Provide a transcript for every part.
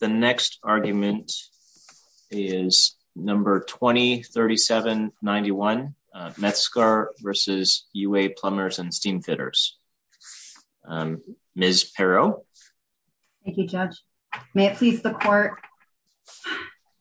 The next argument is number 20-37-91, Mezgar v. U.A. Plumbers and Steamfitters. Ms. Pero. Thank you, Judge. May it please the court.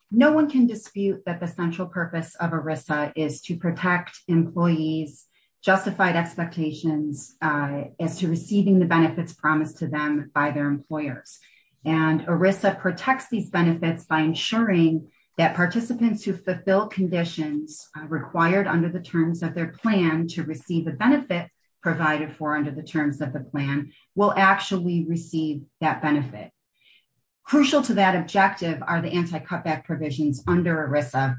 No one can dispute that the central purpose of ERISA is to protect employees' justified expectations as to receiving the benefits promised to them by their employers. And ERISA protects these benefits by ensuring that participants who fulfill conditions required under the terms of their plan to receive the benefit provided for under the terms of the plan will actually receive that benefit. Crucial to that objective are the anti-cutback provisions under ERISA,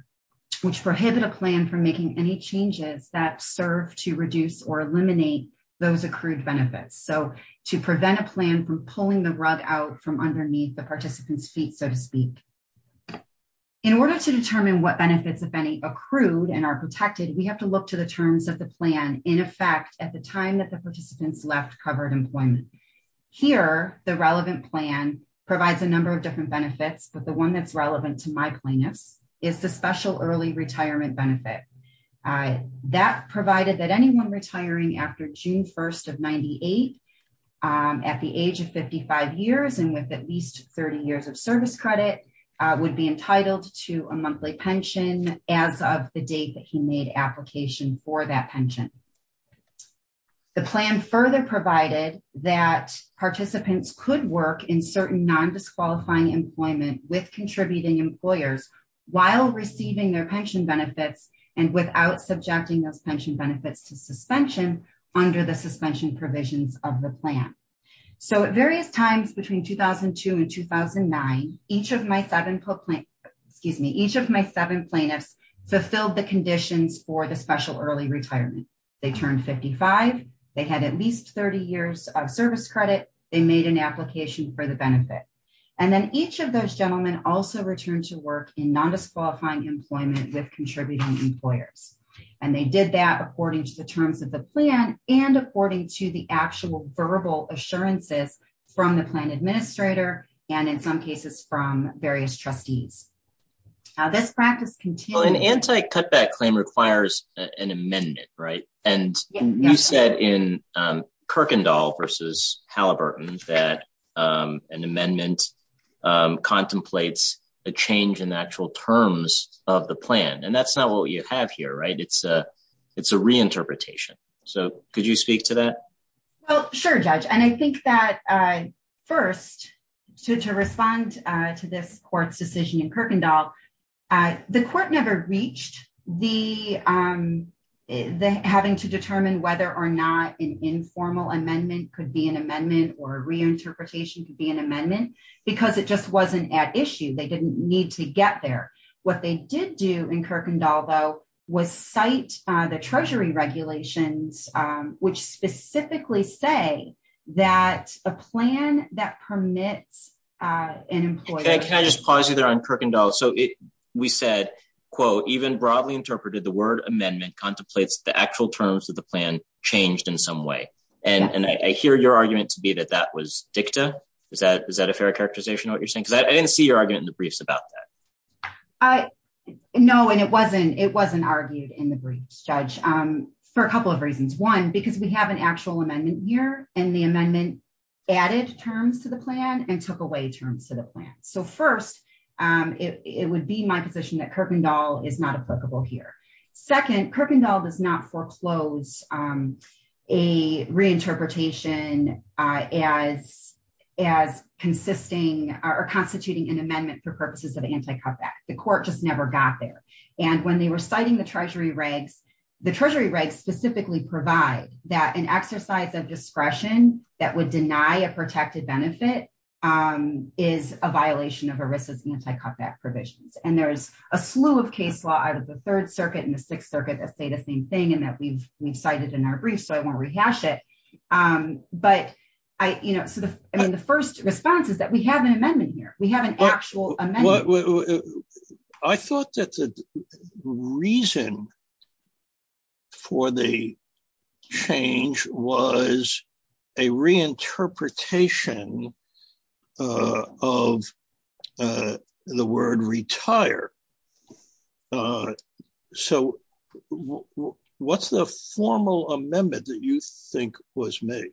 which prohibit a plan from making any changes that serve to reduce or eliminate those accrued benefits. So to prevent a plan from pulling the rug out from underneath the participant's feet, so to speak. In order to determine what benefits, if any, accrued and are protected, we have to look to the terms of the plan in effect at the time that the participants left covered employment. Here, the relevant plan provides a number of different benefits, but the one that's relevant to my plaintiffs is the special early retirement benefit. That provided that anyone retiring after June 1st of 98 at the age of 55 years and with at least 30 years of service credit would be entitled to a monthly pension as of the date that he made application for that pension. The plan further provided that participants could work in certain non-disqualifying employment with contributing employers while receiving their pension benefits and without subjecting those pension benefits to suspension under the suspension provisions of the plan. So at various times between 2002 and 2009, each of my seven plaintiffs, excuse me, each of my seven plaintiffs fulfilled the conditions for the special early retirement. They turned 55, they had at least 30 years of service credit, they made an application for the benefit. And then each of those gentlemen also returned to work in non-disqualifying employment with contributing employers. And they did that according to the terms of the plan and according to the actual verbal assurances from the plan administrator and in some cases from various trustees. Now this practice continues- Well, an anti-cutback claim requires an amendment, right? And you said in Kirkendall versus Halliburton that an amendment contemplates a change in the actual terms of the plan. And that's not what you have here, right? It's a reinterpretation. So could you speak to that? Well, sure, Judge. And I think that first to respond to this court's decision in Kirkendall, the court never reached having to determine whether or not an informal amendment could be an amendment or reinterpretation could be an amendment because it just wasn't at issue. They didn't need to get there. What they did do in Kirkendall though was cite the treasury regulations which specifically say that a plan that permits an employer- Can I just pause you there on Kirkendall? So we said, quote, even broadly interpreted the word amendment contemplates the actual terms of the plan changed in some way. And I hear your argument to be that that was dicta. Is that a fair characterization of what you're saying? Because I didn't see your argument in the briefs about that. No, and it wasn't argued in the briefs, Judge, for a couple of reasons. One, because we have an actual amendment here and the amendment added terms to the plan and took away terms to the plan. So first, it would be my position that Kirkendall is not applicable here. Second, Kirkendall does not foreclose a reinterpretation as consisting or constituting an amendment for purposes of anti-cutback. The court just never got there. And when they were citing the treasury regs, the treasury regs specifically provide that an exercise of discretion that would deny a protected benefit is a violation of ERISA's anti-cutback provisions. And there's a slew of case law out of the Third Circuit and the Sixth Circuit that say the same thing and that we've cited in our brief, so I won't rehash it. But I, you know, so the, I mean, the first response is that we have an amendment here. We have an actual amendment. I thought that the reason for the change was a reinterpretation of the word retire. So what's the formal amendment that you think was made?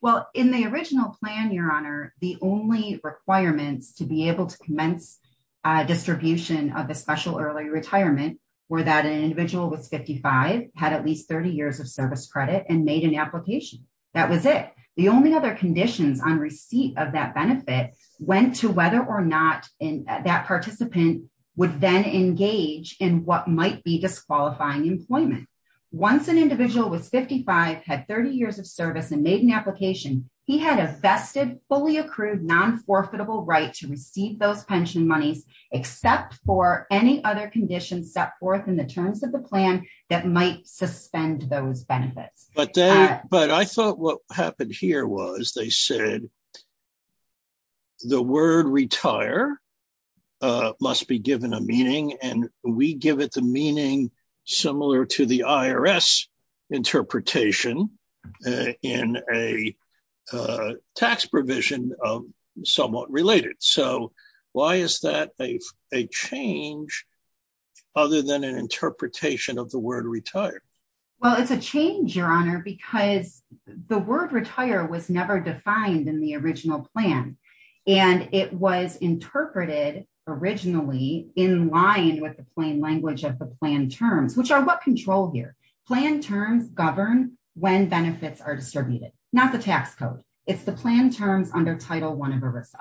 Well, in the original plan, Your Honor, the only requirements to be able to commence a distribution of the special early retirement were that an individual was 55, had at least 30 years of service credit and made an application. That was it. The only other conditions on receipt of that benefit went to whether or not that participant would then engage in what might be disqualifying employment. Once an individual was 55, had 30 years of service and made an application, he had a vested, fully accrued, non-forfeitable right to receive those pension monies except for any other conditions set forth in the terms of the plan that might suspend those benefits. But I thought what happened here was they said, the word retire must be given a meaning and we give it the meaning similar to the IRS interpretation in a tax provision of somewhat related. So why is that a change other than an interpretation of the word retire? Well, it's a change, Your Honor, because the word retire was never defined in the original plan. And it was interpreted originally in line with the plain language of the plan terms, which are what control here. Plan terms govern when benefits are distributed, not the tax code. It's the plan terms under Title I of ERISA,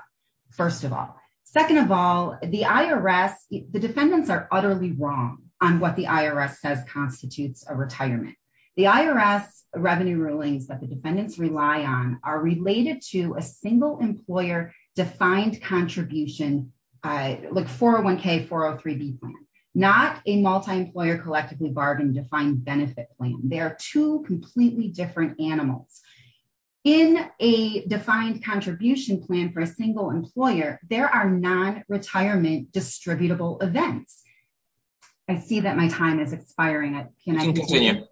first of all. Second of all, the IRS, the defendants are utterly wrong on what the IRS says constitutes a retirement. The IRS revenue rulings that the defendants rely on are related to a single employer defined contribution, like 401k, 403b plan, not a multi-employer collectively bargained defined benefit plan. They are two completely different animals. In a defined contribution plan for a single employer, there are non-retirement distributable events. I see that my time is expiring. Can I continue?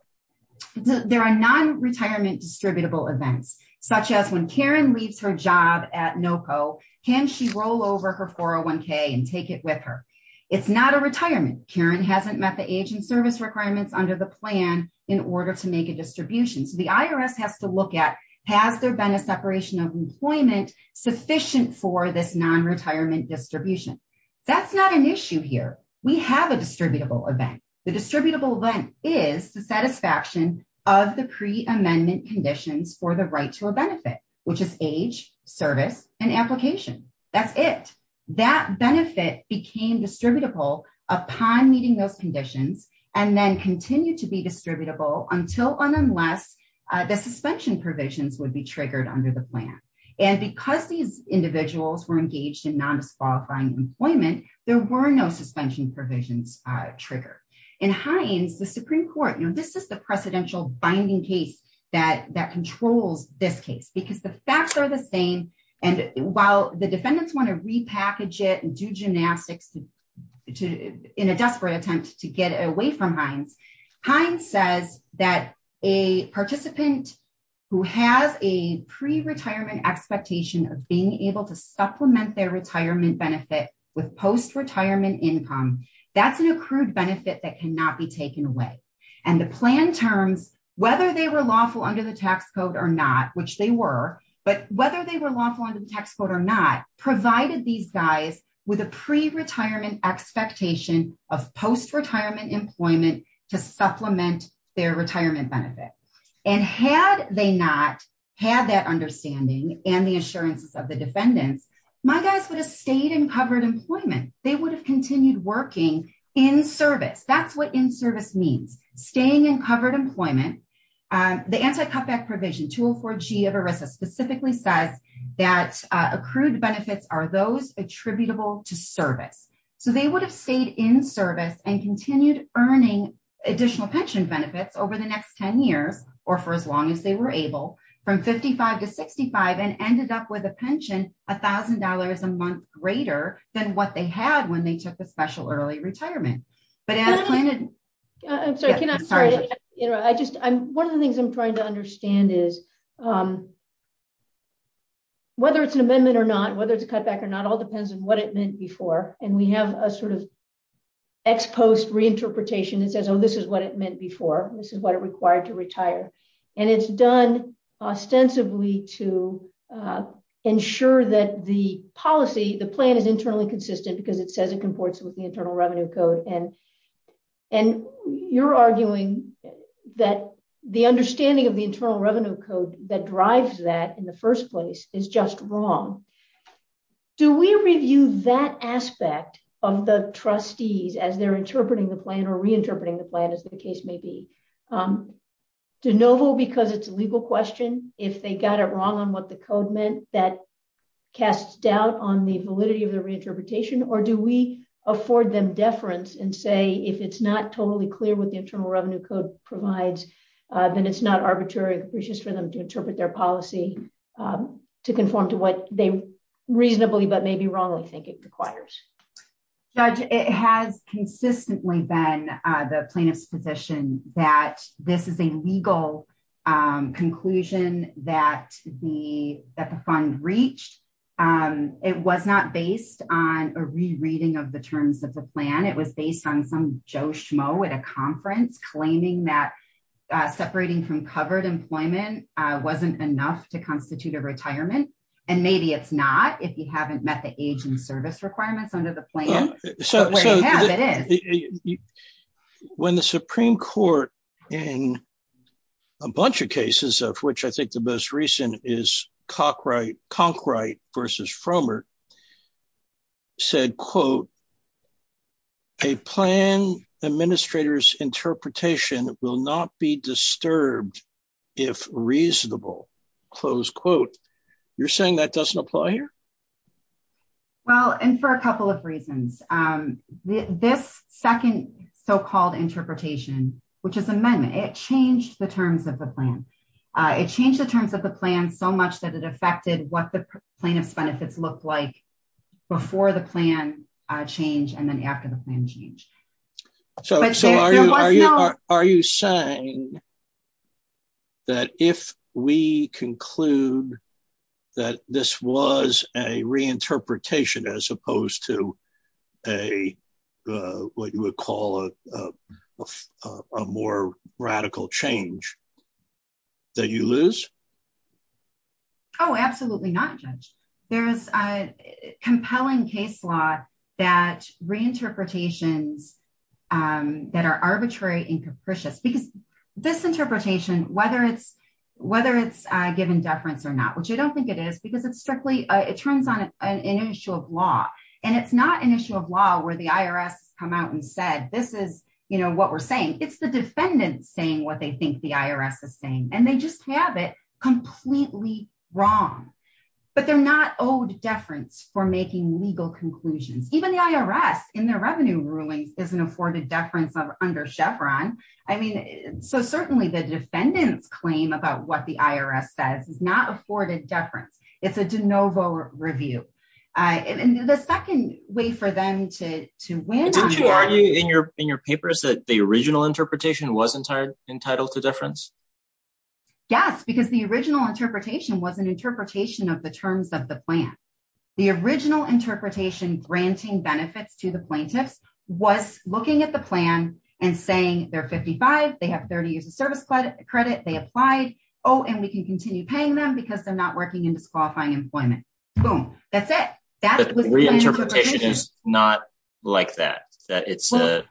There are non-retirement distributable events, such as when Karen leaves her job at NOCO, can she roll over her 401k and take it with her? It's not a retirement. Karen hasn't met the age and service requirements under the plan in order to make a distribution. So the IRS has to look at, has there been a separation of employment sufficient for this non-retirement distribution? That's not an issue here. We have a distributable event. The distributable event is the satisfaction of the pre-amendment conditions for the right to a benefit, which is age, service, and application. That's it. That benefit became distributable upon meeting those conditions and then continued to be distributable until and unless the suspension provisions would be triggered under the plan. And because these individuals were engaged in non-disqualifying employment, there were no suspension provisions triggered. In Heinz, the Supreme Court, this is the precedential binding case that controls this case, because the facts are the same. And while the defendants want to repackage it and do gymnastics in a desperate attempt to get away from Heinz, Heinz says that a participant who has a pre-retirement expectation of being able to supplement their retirement benefit with post-retirement income, that's an accrued benefit that cannot be taken away. And the plan terms, whether they were lawful under the tax code or not, which they were, but whether they were lawful under the tax code or not, provided these guys with a pre-retirement expectation of post-retirement employment to supplement their retirement benefit. And had they not had that understanding and the assurances of the defendants, my guys would have stayed in covered employment. They would have continued working in service. That's what in-service means, staying in covered employment. The anti-cutback provision, 204G of ERISA specifically says that accrued benefits are those attributable to service. So they would have stayed in service and continued earning additional pension benefits over the next 10 years, or for as long as they were able, from 55 to 65 and ended up with a pension, $1,000 a month greater than what they had when they took the special early retirement. But as planned- I'm sorry, can I, sorry. I just, one of the things I'm trying to understand is whether it's an amendment or not, whether it's a cutback or not, all depends on what it meant before. And we have a sort of ex-post reinterpretation that says, oh, this is what it meant before. This is what it required to retire. And it's done ostensibly to ensure that the policy, the plan is internally consistent because it says it comports with the Internal Revenue Code. And you're arguing that the understanding of the Internal Revenue Code that drives that in the first place is just wrong. Do we review that aspect of the trustees as they're interpreting the plan or reinterpreting the plan as the case may be? De Novo, because it's a legal question, if they got it wrong on what the code meant, that casts doubt on the validity of the reinterpretation or do we afford them deference and say, if it's not totally clear what the Internal Revenue Code provides, then it's not arbitrary for them to interpret their policy to conform to what they reasonably, but maybe wrongly think it requires. Judge, it has consistently been the plaintiff's position that this is a legal conclusion that the fund reached. It was not based on a rereading of the terms of the plan. It was based on some Joe Schmo at a conference claiming that separating from covered employment wasn't enough to constitute a retirement. And maybe it's not, if you haven't met the age and service requirements under the plan. When the Supreme Court in a bunch of cases of which I think the most recent is Conkright versus Frommer said, quote, a plan administrator's interpretation will not be disturbed if reasonable, close quote. You're saying that doesn't apply here? Well, and for a couple of reasons, this second so-called interpretation, which is amendment, it changed the terms of the plan. It changed the terms of the plan so much that it affected what the plaintiff's benefits looked like before the plan change and then after the plan change. Are you saying that if we conclude that this was a reinterpretation as opposed to what you would call a more radical change, that you lose? Oh, absolutely not, Judge. There's a compelling case law that reinterpretations that are arbitrary and capricious because this interpretation, whether it's given deference or not, which I don't think it is because it's strictly, it turns on an issue of law. And it's not an issue of law where the IRS has come out and said, this is what we're saying. It's the defendant saying what they think the IRS is saying and they just have it completely wrong. But they're not owed deference for making legal conclusions. Even the IRS in their revenue rulings isn't afforded deference under Chevron. I mean, so certainly the defendant's claim about what the IRS says is not afforded deference. It's a de novo review. And the second way for them to win- Did you argue in your papers that the original interpretation was entitled to deference? Yes, because the original interpretation was an interpretation of the terms of the plan. The original interpretation granting benefits to the plaintiffs was looking at the plan and saying they're 55, they have 30 years of service credit, they applied. Oh, and we can continue paying them because they're not working in disqualifying employment. Boom, that's it. But the reinterpretation is not like that, that it's a,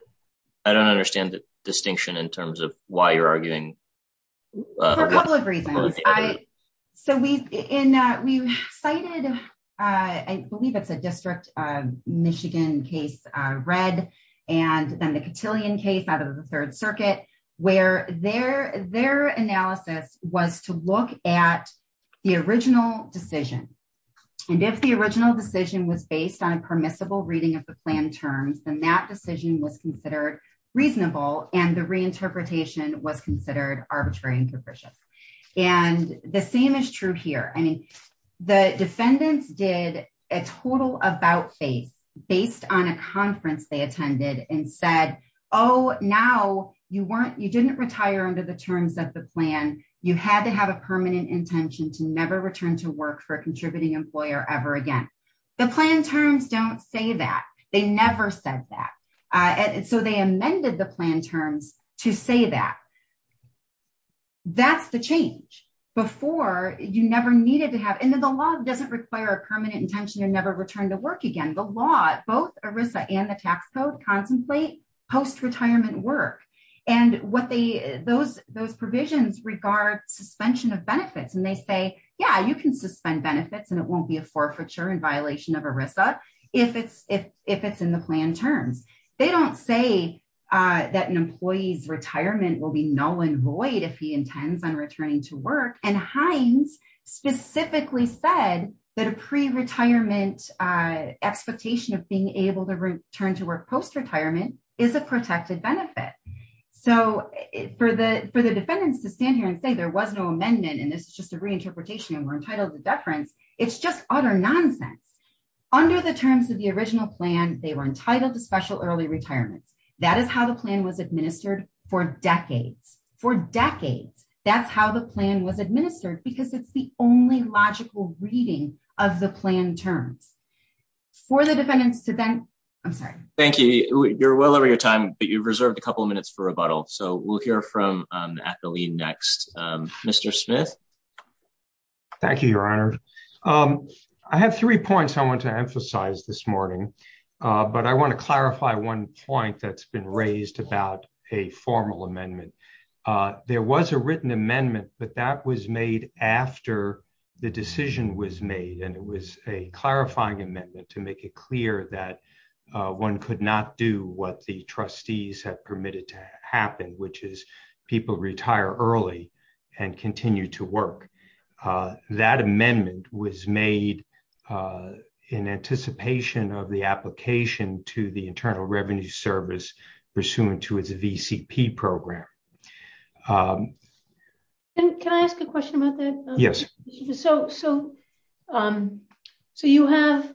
I don't understand the distinction in terms of why you're arguing. For a couple of reasons. So we cited, I believe it's a District of Michigan case, Red, and then the Cotillion case out of the Third Circuit, where their analysis was to look at the original decision. And if the original decision was based on a permissible reading of the plan terms, then that decision was considered reasonable and the reinterpretation was considered arbitrary and capricious. And the same is true here. I mean, the defendants did a total about face based on a conference they attended and said, oh, now you weren't, you didn't retire under the terms of the plan. You had to have a permanent intention to never return to work for a contributing employer ever again. The plan terms don't say that. They never said that. So they amended the plan terms to say that. That's the change. Before, you never needed to have, and then the law doesn't require a permanent intention to never return to work again. The law, both ERISA and the tax code contemplate post-retirement work. And what they, those provisions regard suspension of benefits. And they say, yeah, you can suspend benefits and it won't be a forfeiture in violation of ERISA if it's in the plan terms. They don't say that an employee's retirement will be null and void if he intends on returning to work. And Hines specifically said that a pre-retirement expectation of being able to return to work post-retirement is a protected benefit. So for the defendants to stand here and say there was no amendment, and this is just a reinterpretation and we're entitled to deference, it's just utter nonsense. Under the terms of the original plan, they were entitled to special early retirement. That is how the plan was administered for decades. For decades, that's how the plan was administered because it's the only logical reading of the plan terms. For the defendants to then, I'm sorry. Thank you. You're well over your time, but you've reserved a couple of minutes for rebuttal. So we'll hear from Atheline next. Mr. Smith. Thank you, Your Honor. I have three points I want to emphasize this morning, but I want to clarify one point that's been raised about a formal amendment. There was a written amendment, but that was made after the decision was made. And it was a clarifying amendment to make it clear that one could not do what the trustees have permitted to happen, which is people retire early and continue to work. That amendment was made in anticipation of the application to the Internal Revenue Service pursuant to its VCP program. And can I ask a question about that? Yes. So you have,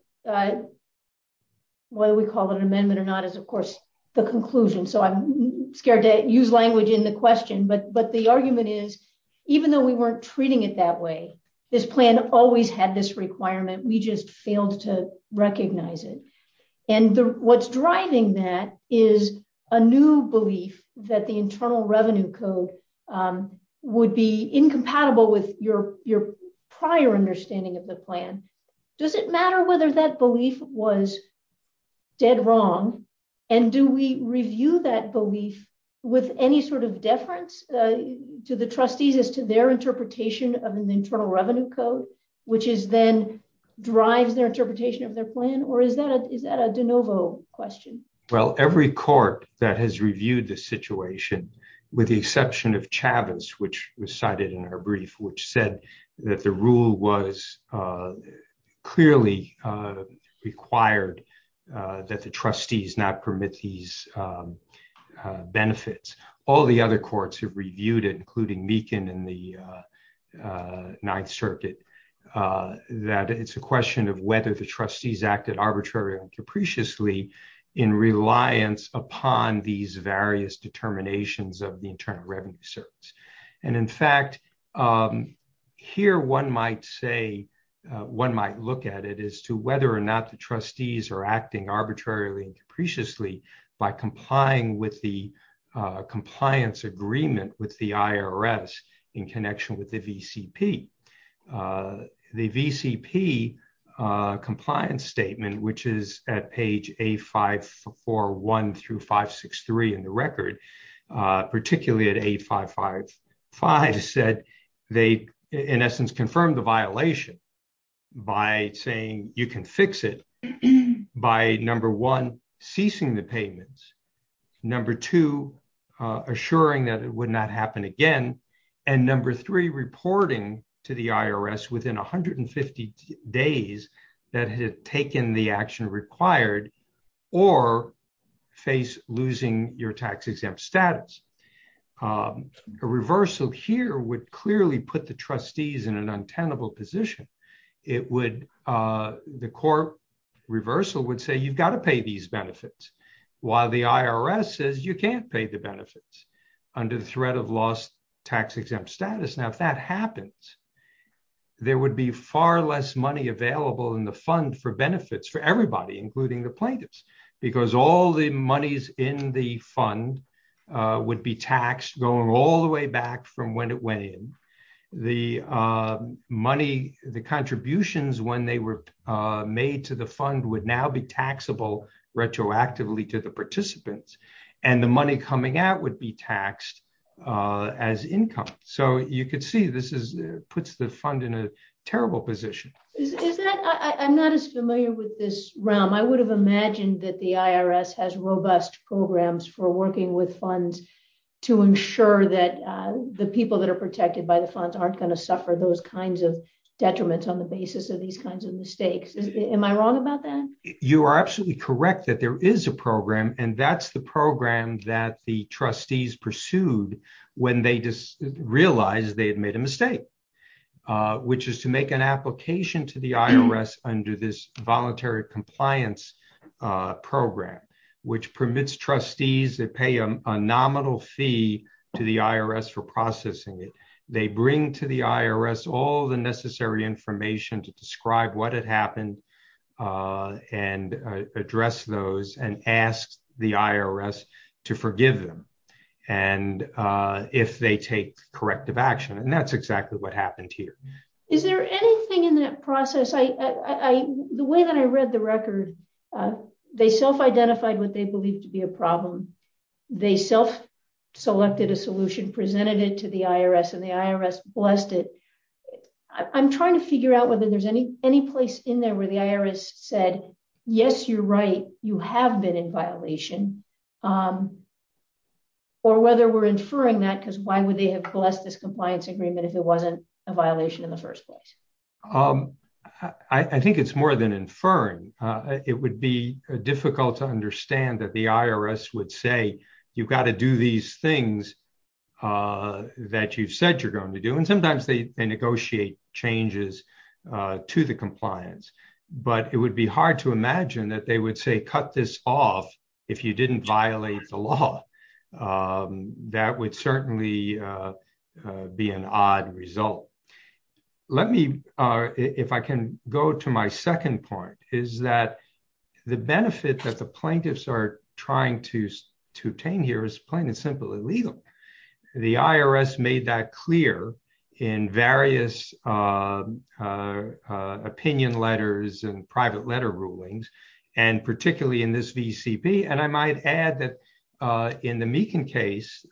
whether we call it an amendment or not, is of course the conclusion. So I'm scared to use language in the question, but the argument is, even though we weren't treating it that way, this plan always had this requirement. We just failed to recognize it. And what's driving that is a new belief that the Internal Revenue Code would be incompatible with your prior understanding of the plan. Does it matter whether that belief was dead wrong? And do we review that belief with any sort of deference to the trustees as to their interpretation of an Internal Revenue Code, which is then drives their interpretation of their plan? Or is that a de novo question? Well, every court that has reviewed the situation with the exception of Chavez, which was cited in our brief, which said that the rule was clearly required that the trustees not permit these benefits. All the other courts have reviewed it, including Meakin in the Ninth Circuit, that it's a question of whether the trustees acted arbitrarily and capriciously in reliance upon these various determinations of the Internal Revenue Service. And in fact, here one might say, one might look at it as to whether or not the trustees are acting arbitrarily and capriciously by complying with the compliance agreement with the IRS in connection with the VCP. The VCP compliance statement, which is at page A541 through 563 in the record, particularly at A555 said, they in essence confirmed the violation by saying you can fix it by number one, ceasing the payments. Number two, assuring that it would not happen again. And number three, reporting to the IRS within 150 days that had taken the action required or face losing your tax exempt status. A reversal here would clearly put the trustees in an untenable position. The court reversal would say, you've got to pay these benefits. While the IRS says you can't pay the benefits under the threat of lost tax exempt status. Now, if that happens, there would be far less money available in the fund for benefits for everybody, including the plaintiffs. Because all the monies in the fund would be taxed going all the way back from when it went in. The money, the contributions when they were made to the fund would now be taxable retroactively to the participants. And the money coming out would be taxed as income. So you could see this puts the fund in a terrible position. I'm not as familiar with this realm. I would have imagined that the IRS has robust programs for working with funds to ensure that the people that are protected by the funds aren't gonna suffer those kinds of detriments on the basis of these kinds of mistakes. Am I wrong about that? You are absolutely correct that there is a program and that's the program that the trustees pursued when they realized they had made a mistake. Which is to make an application to the IRS under this voluntary compliance program, which permits trustees that pay a nominal fee to the IRS for processing it. They bring to the IRS all the necessary information to describe what had happened and address those and ask the IRS to forgive them. And if they take corrective action, and that's exactly what happened here. Is there anything in that process? The way that I read the record, they self-identified what they believed to be a problem. They self-selected a solution, presented it to the IRS and the IRS blessed it. I'm trying to figure out whether there's any place in there where the IRS said, yes, you're right, you have been in violation or whether we're inferring that because why would they have blessed this compliance agreement if it wasn't a violation in the first place? I think it's more than inferring. It would be difficult to understand that the IRS would say, you've got to do these things that you've said you're going to do. And sometimes they negotiate changes to the compliance, but it would be hard to imagine that they would say, cut this off if you didn't violate the law. That would certainly be an odd result. Let me, if I can go to my second point, is that the benefit that the plaintiffs are trying to obtain here is plain and simple illegal. The IRS made that clear in various opinion letters and private letter rulings, and particularly in this VCP. And I might add that in the Meekin case,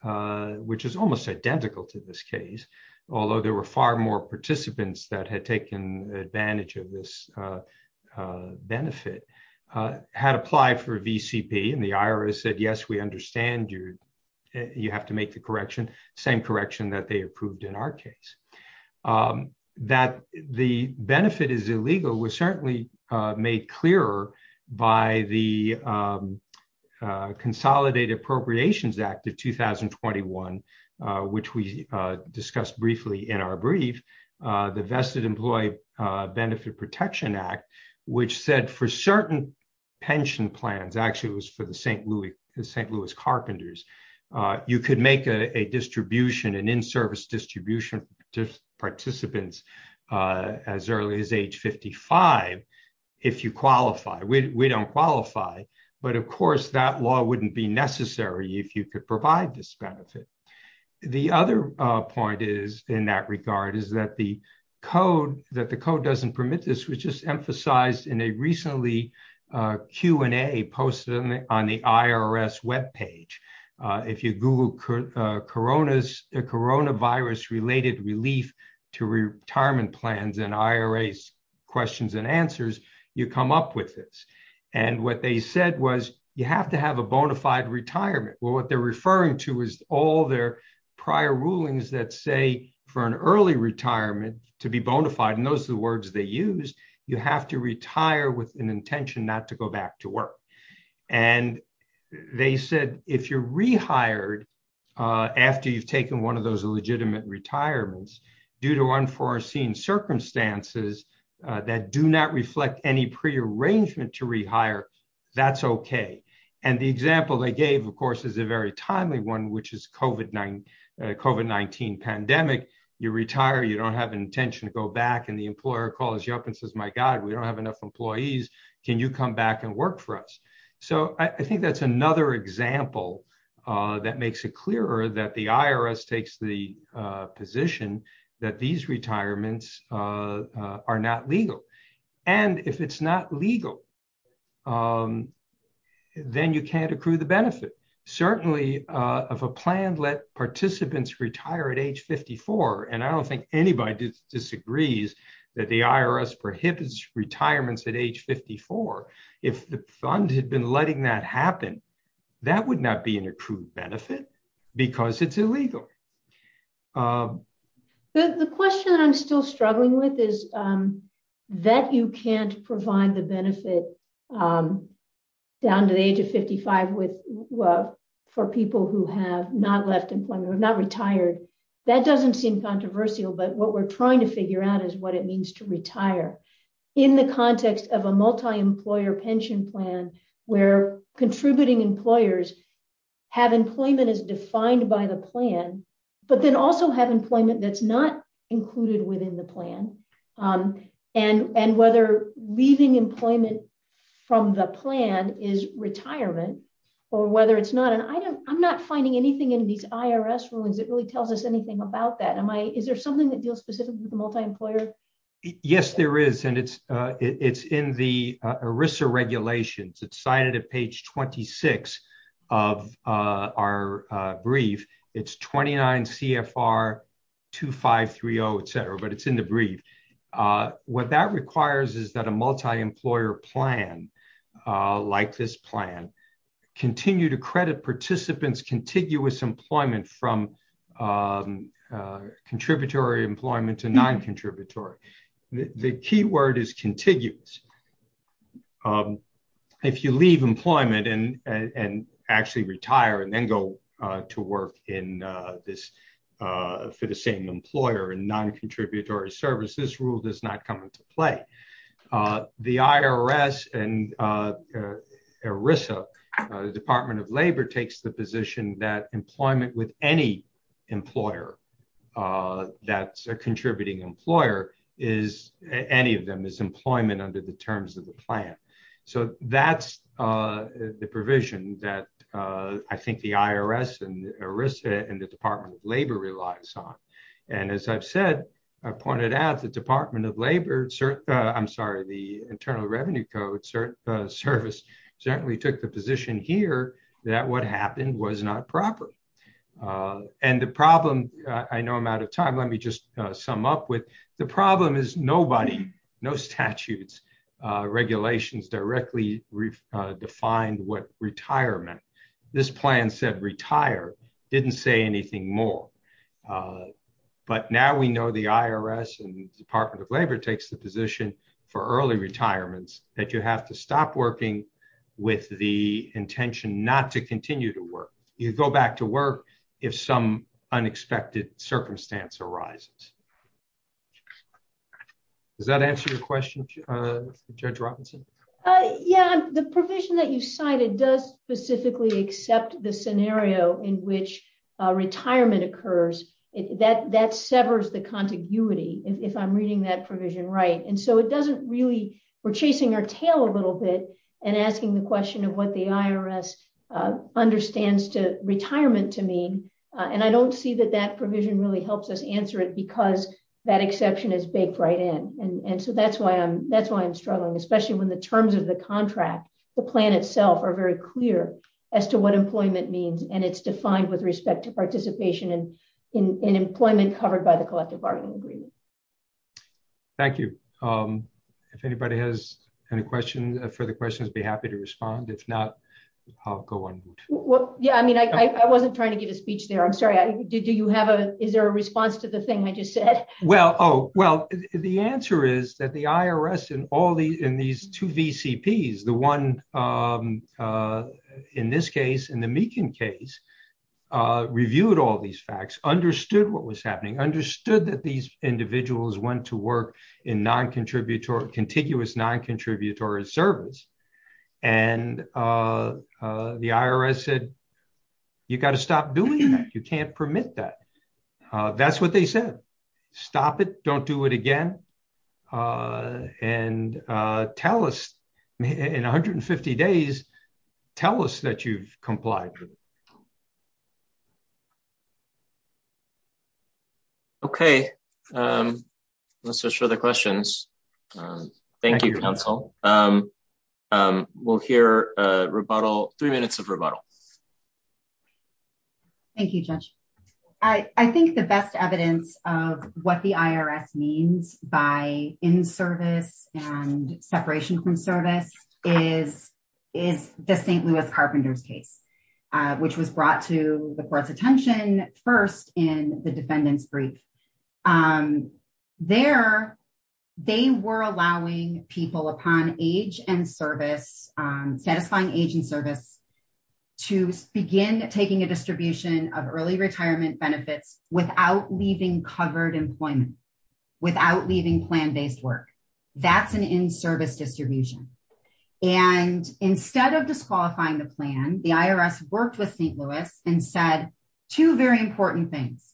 which is almost identical to this case, although there were far more participants that had taken advantage of this benefit, had applied for VCP and the IRS said, yes, we understand you have to make the correction, same correction that they approved in our case. That the benefit is illegal was certainly made clearer by the Consolidated Appropriations Act of 2021, which we discussed briefly in our brief, the Vested Employee Benefit Protection Act, which said for certain pension plans, actually it was for the St. Louis Carpenters, you could make a distribution, an in-service distribution to participants as early as age 55, if you qualify. We don't qualify, but of course that law wouldn't be necessary if you could provide this benefit. The other point is, in that regard, is that the code, that the code doesn't permit this, which is emphasized in a recently Q&A posted on the IRS webpage. If you Google coronavirus-related relief to retirement plans and IRAs questions and answers, you come up with this. And what they said was, you have to have a bona fide retirement. Well, what they're referring to is all their prior rulings that say for an early retirement to be bona fide, and those are the words they use, you have to retire with an intention not to go back to work. And they said, if you're rehired after you've taken one of those legitimate retirements due to unforeseen circumstances that do not reflect any prearrangement to rehire, that's okay. And the example they gave, of course, is a very timely one, which is COVID-19 pandemic. You retire, you don't have an intention to go back, and the employer calls you up and says, my God, we don't have enough employees. Can you come back and work for us? So I think that's another example that makes it clearer that the IRS takes the position that these retirements are not legal. And if it's not legal, then you can't accrue the benefit. Certainly, if a plan let participants retire at age 54, and I don't think anybody disagrees that the IRS prohibits retirements at age 54, if the fund had been letting that happen, that would not be an accrued benefit because it's illegal. The question that I'm still struggling with is that you can't provide the benefit down to the age of 55 for people who have not left employment or not retired. That doesn't seem controversial, but what we're trying to figure out is what it means to retire. In the context of a multi-employer pension plan, where contributing employers have employment as defined by the plan, but then also have employment that's not included within the plan, and whether leaving employment from the plan is retirement or whether it's not. And I'm not finding anything in these IRS rulings that really tells us anything about that. Is there something that deals specifically with the multi-employer? Yes, there is. And it's in the ERISA regulations. It's cited at page 26 of our brief. It's 29 CFR 2530, et cetera, but it's in the brief. What that requires is that a multi-employer plan like this plan continue to credit participants contiguous employment from contributory employment to non-contributory. The key word is contiguous. If you leave employment and actually retire and then go to work for the same employer in non-contributory services, this rule does not come into play. The IRS and ERISA, the Department of Labor, takes the position that employment with any employer that's a contributing employer is, any of them is employment under the terms of the plan. So that's the provision that I think the IRS and ERISA and the Department of Labor relies on. And as I've said, I pointed out the Department of Labor, I'm sorry, the Internal Revenue Code Service certainly took the position here that what happened was not proper. And the problem, I know I'm out of time, let me just sum up with, the problem is nobody, no statutes, regulations directly defined what retirement. This plan said retire, didn't say anything more. But now we know the IRS and the Department of Labor takes the position for early retirements that you have to stop working with the intention not to continue to work. You go back to work if some unexpected circumstance arises. Does that answer your question, Judge Robinson? Yeah, the provision that you cited does specifically accept the scenario in which retirement occurs. That severs the contiguity if I'm reading that provision right. And so it doesn't really, we're chasing our tail a little bit and asking the question of what the IRS understands to retirement to mean. And I don't see that that provision really helps us answer it because that exception is baked right in. And so that's why I'm struggling, especially when the terms of the contract, the plan itself are very clear as to what employment means. And it's defined with respect to participation in employment covered by the collective bargaining agreement. Thank you. If anybody has any further questions, I'd be happy to respond. If not, I'll go on mute. Yeah, I mean, I wasn't trying to give a speech there. I'm sorry, is there a response to the thing I just said? Well, the answer is that the IRS and all in these two VCPs, the one in this case, in the Meakin case, reviewed all these facts, understood what was happening, understood that these individuals went to work in contiguous non-contributory service. And the IRS said, you got to stop doing that. You can't permit that. That's what they said. Stop it. Don't do it again. And tell us in 150 days, tell us that you've complied with it. Thank you. Okay, let's just show the questions. Thank you, counsel. We'll hear a rebuttal, three minutes of rebuttal. Thank you, Judge. I think the best evidence of what the IRS means by in-service and separation from service is the St. Louis Carpenter's case, which was brought to the court's attention first in the defendant's brief. There, they were allowing people upon age and service, satisfying age and service, to begin taking a distribution of early retirement benefits without leaving covered employment, without leaving plan-based work. That's an in-service distribution. And instead of disqualifying the plan, the IRS worked with St. Louis and said two very important things.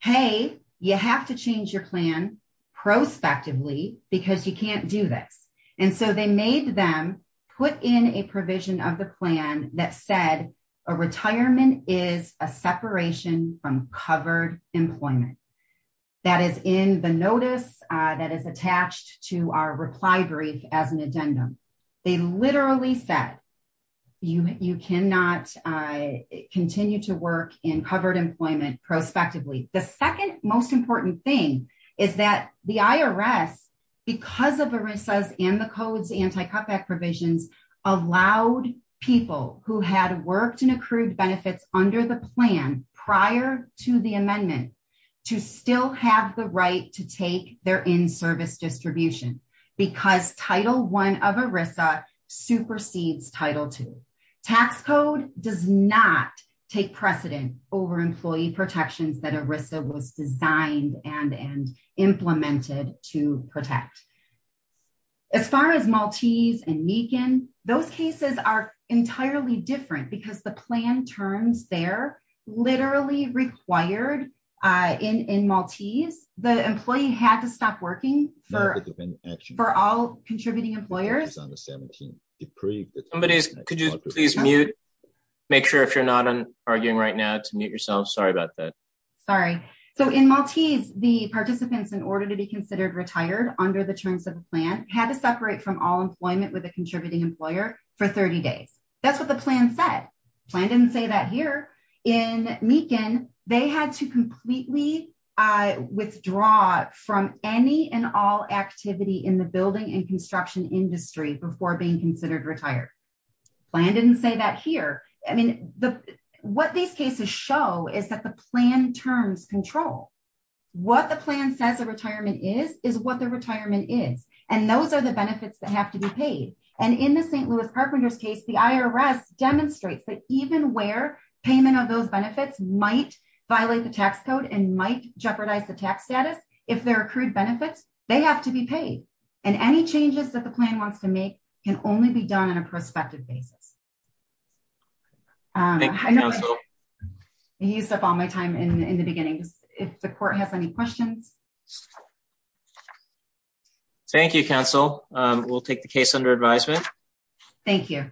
Hey, you have to change your plan prospectively because you can't do this. And so they made them put in a provision of the plan that said a retirement is a separation from covered employment. That is in the notice that is attached to our reply brief as an addendum. They literally said you cannot continue to work in covered employment prospectively. The second most important thing is that the IRS, because of ERISA's and the code's anti-cutback provisions, allowed people who had worked and accrued benefits under the plan prior to the amendment to still have the right to take their in-service distribution because Title I of ERISA supersedes Title II. Tax code does not take precedent over employee protections that ERISA was designed and implemented to protect. As far as Maltese and Meekin, those cases are entirely different because the plan terms there literally required in Maltese, the employee had to stop working for- For all contributing employers. Somebody, could you please mute? Make sure if you're not arguing right now to mute yourself. Sorry about that. Sorry. So in Maltese, the participants, in order to be considered retired under the terms of the plan had to separate from all employment with a contributing employer for 30 days. That's what the plan said. Plan didn't say that here. In Meekin, they had to completely withdraw from any and all activity in the building and construction industry before being considered retired. Plan didn't say that here. I mean, what these cases show is that the plan terms control. What the plan says a retirement is, is what the retirement is. And those are the benefits that have to be paid. And in the St. Louis carpenters case, the IRS demonstrates that even where payment of those benefits might violate the tax code and might jeopardize the tax status, if they're accrued benefits, they have to be paid. And any changes that the plan wants to make can only be done on a prospective basis. I used up all my time in the beginning. If the court has any questions. Thank you, counsel. We'll take the case under advisement. Thank you.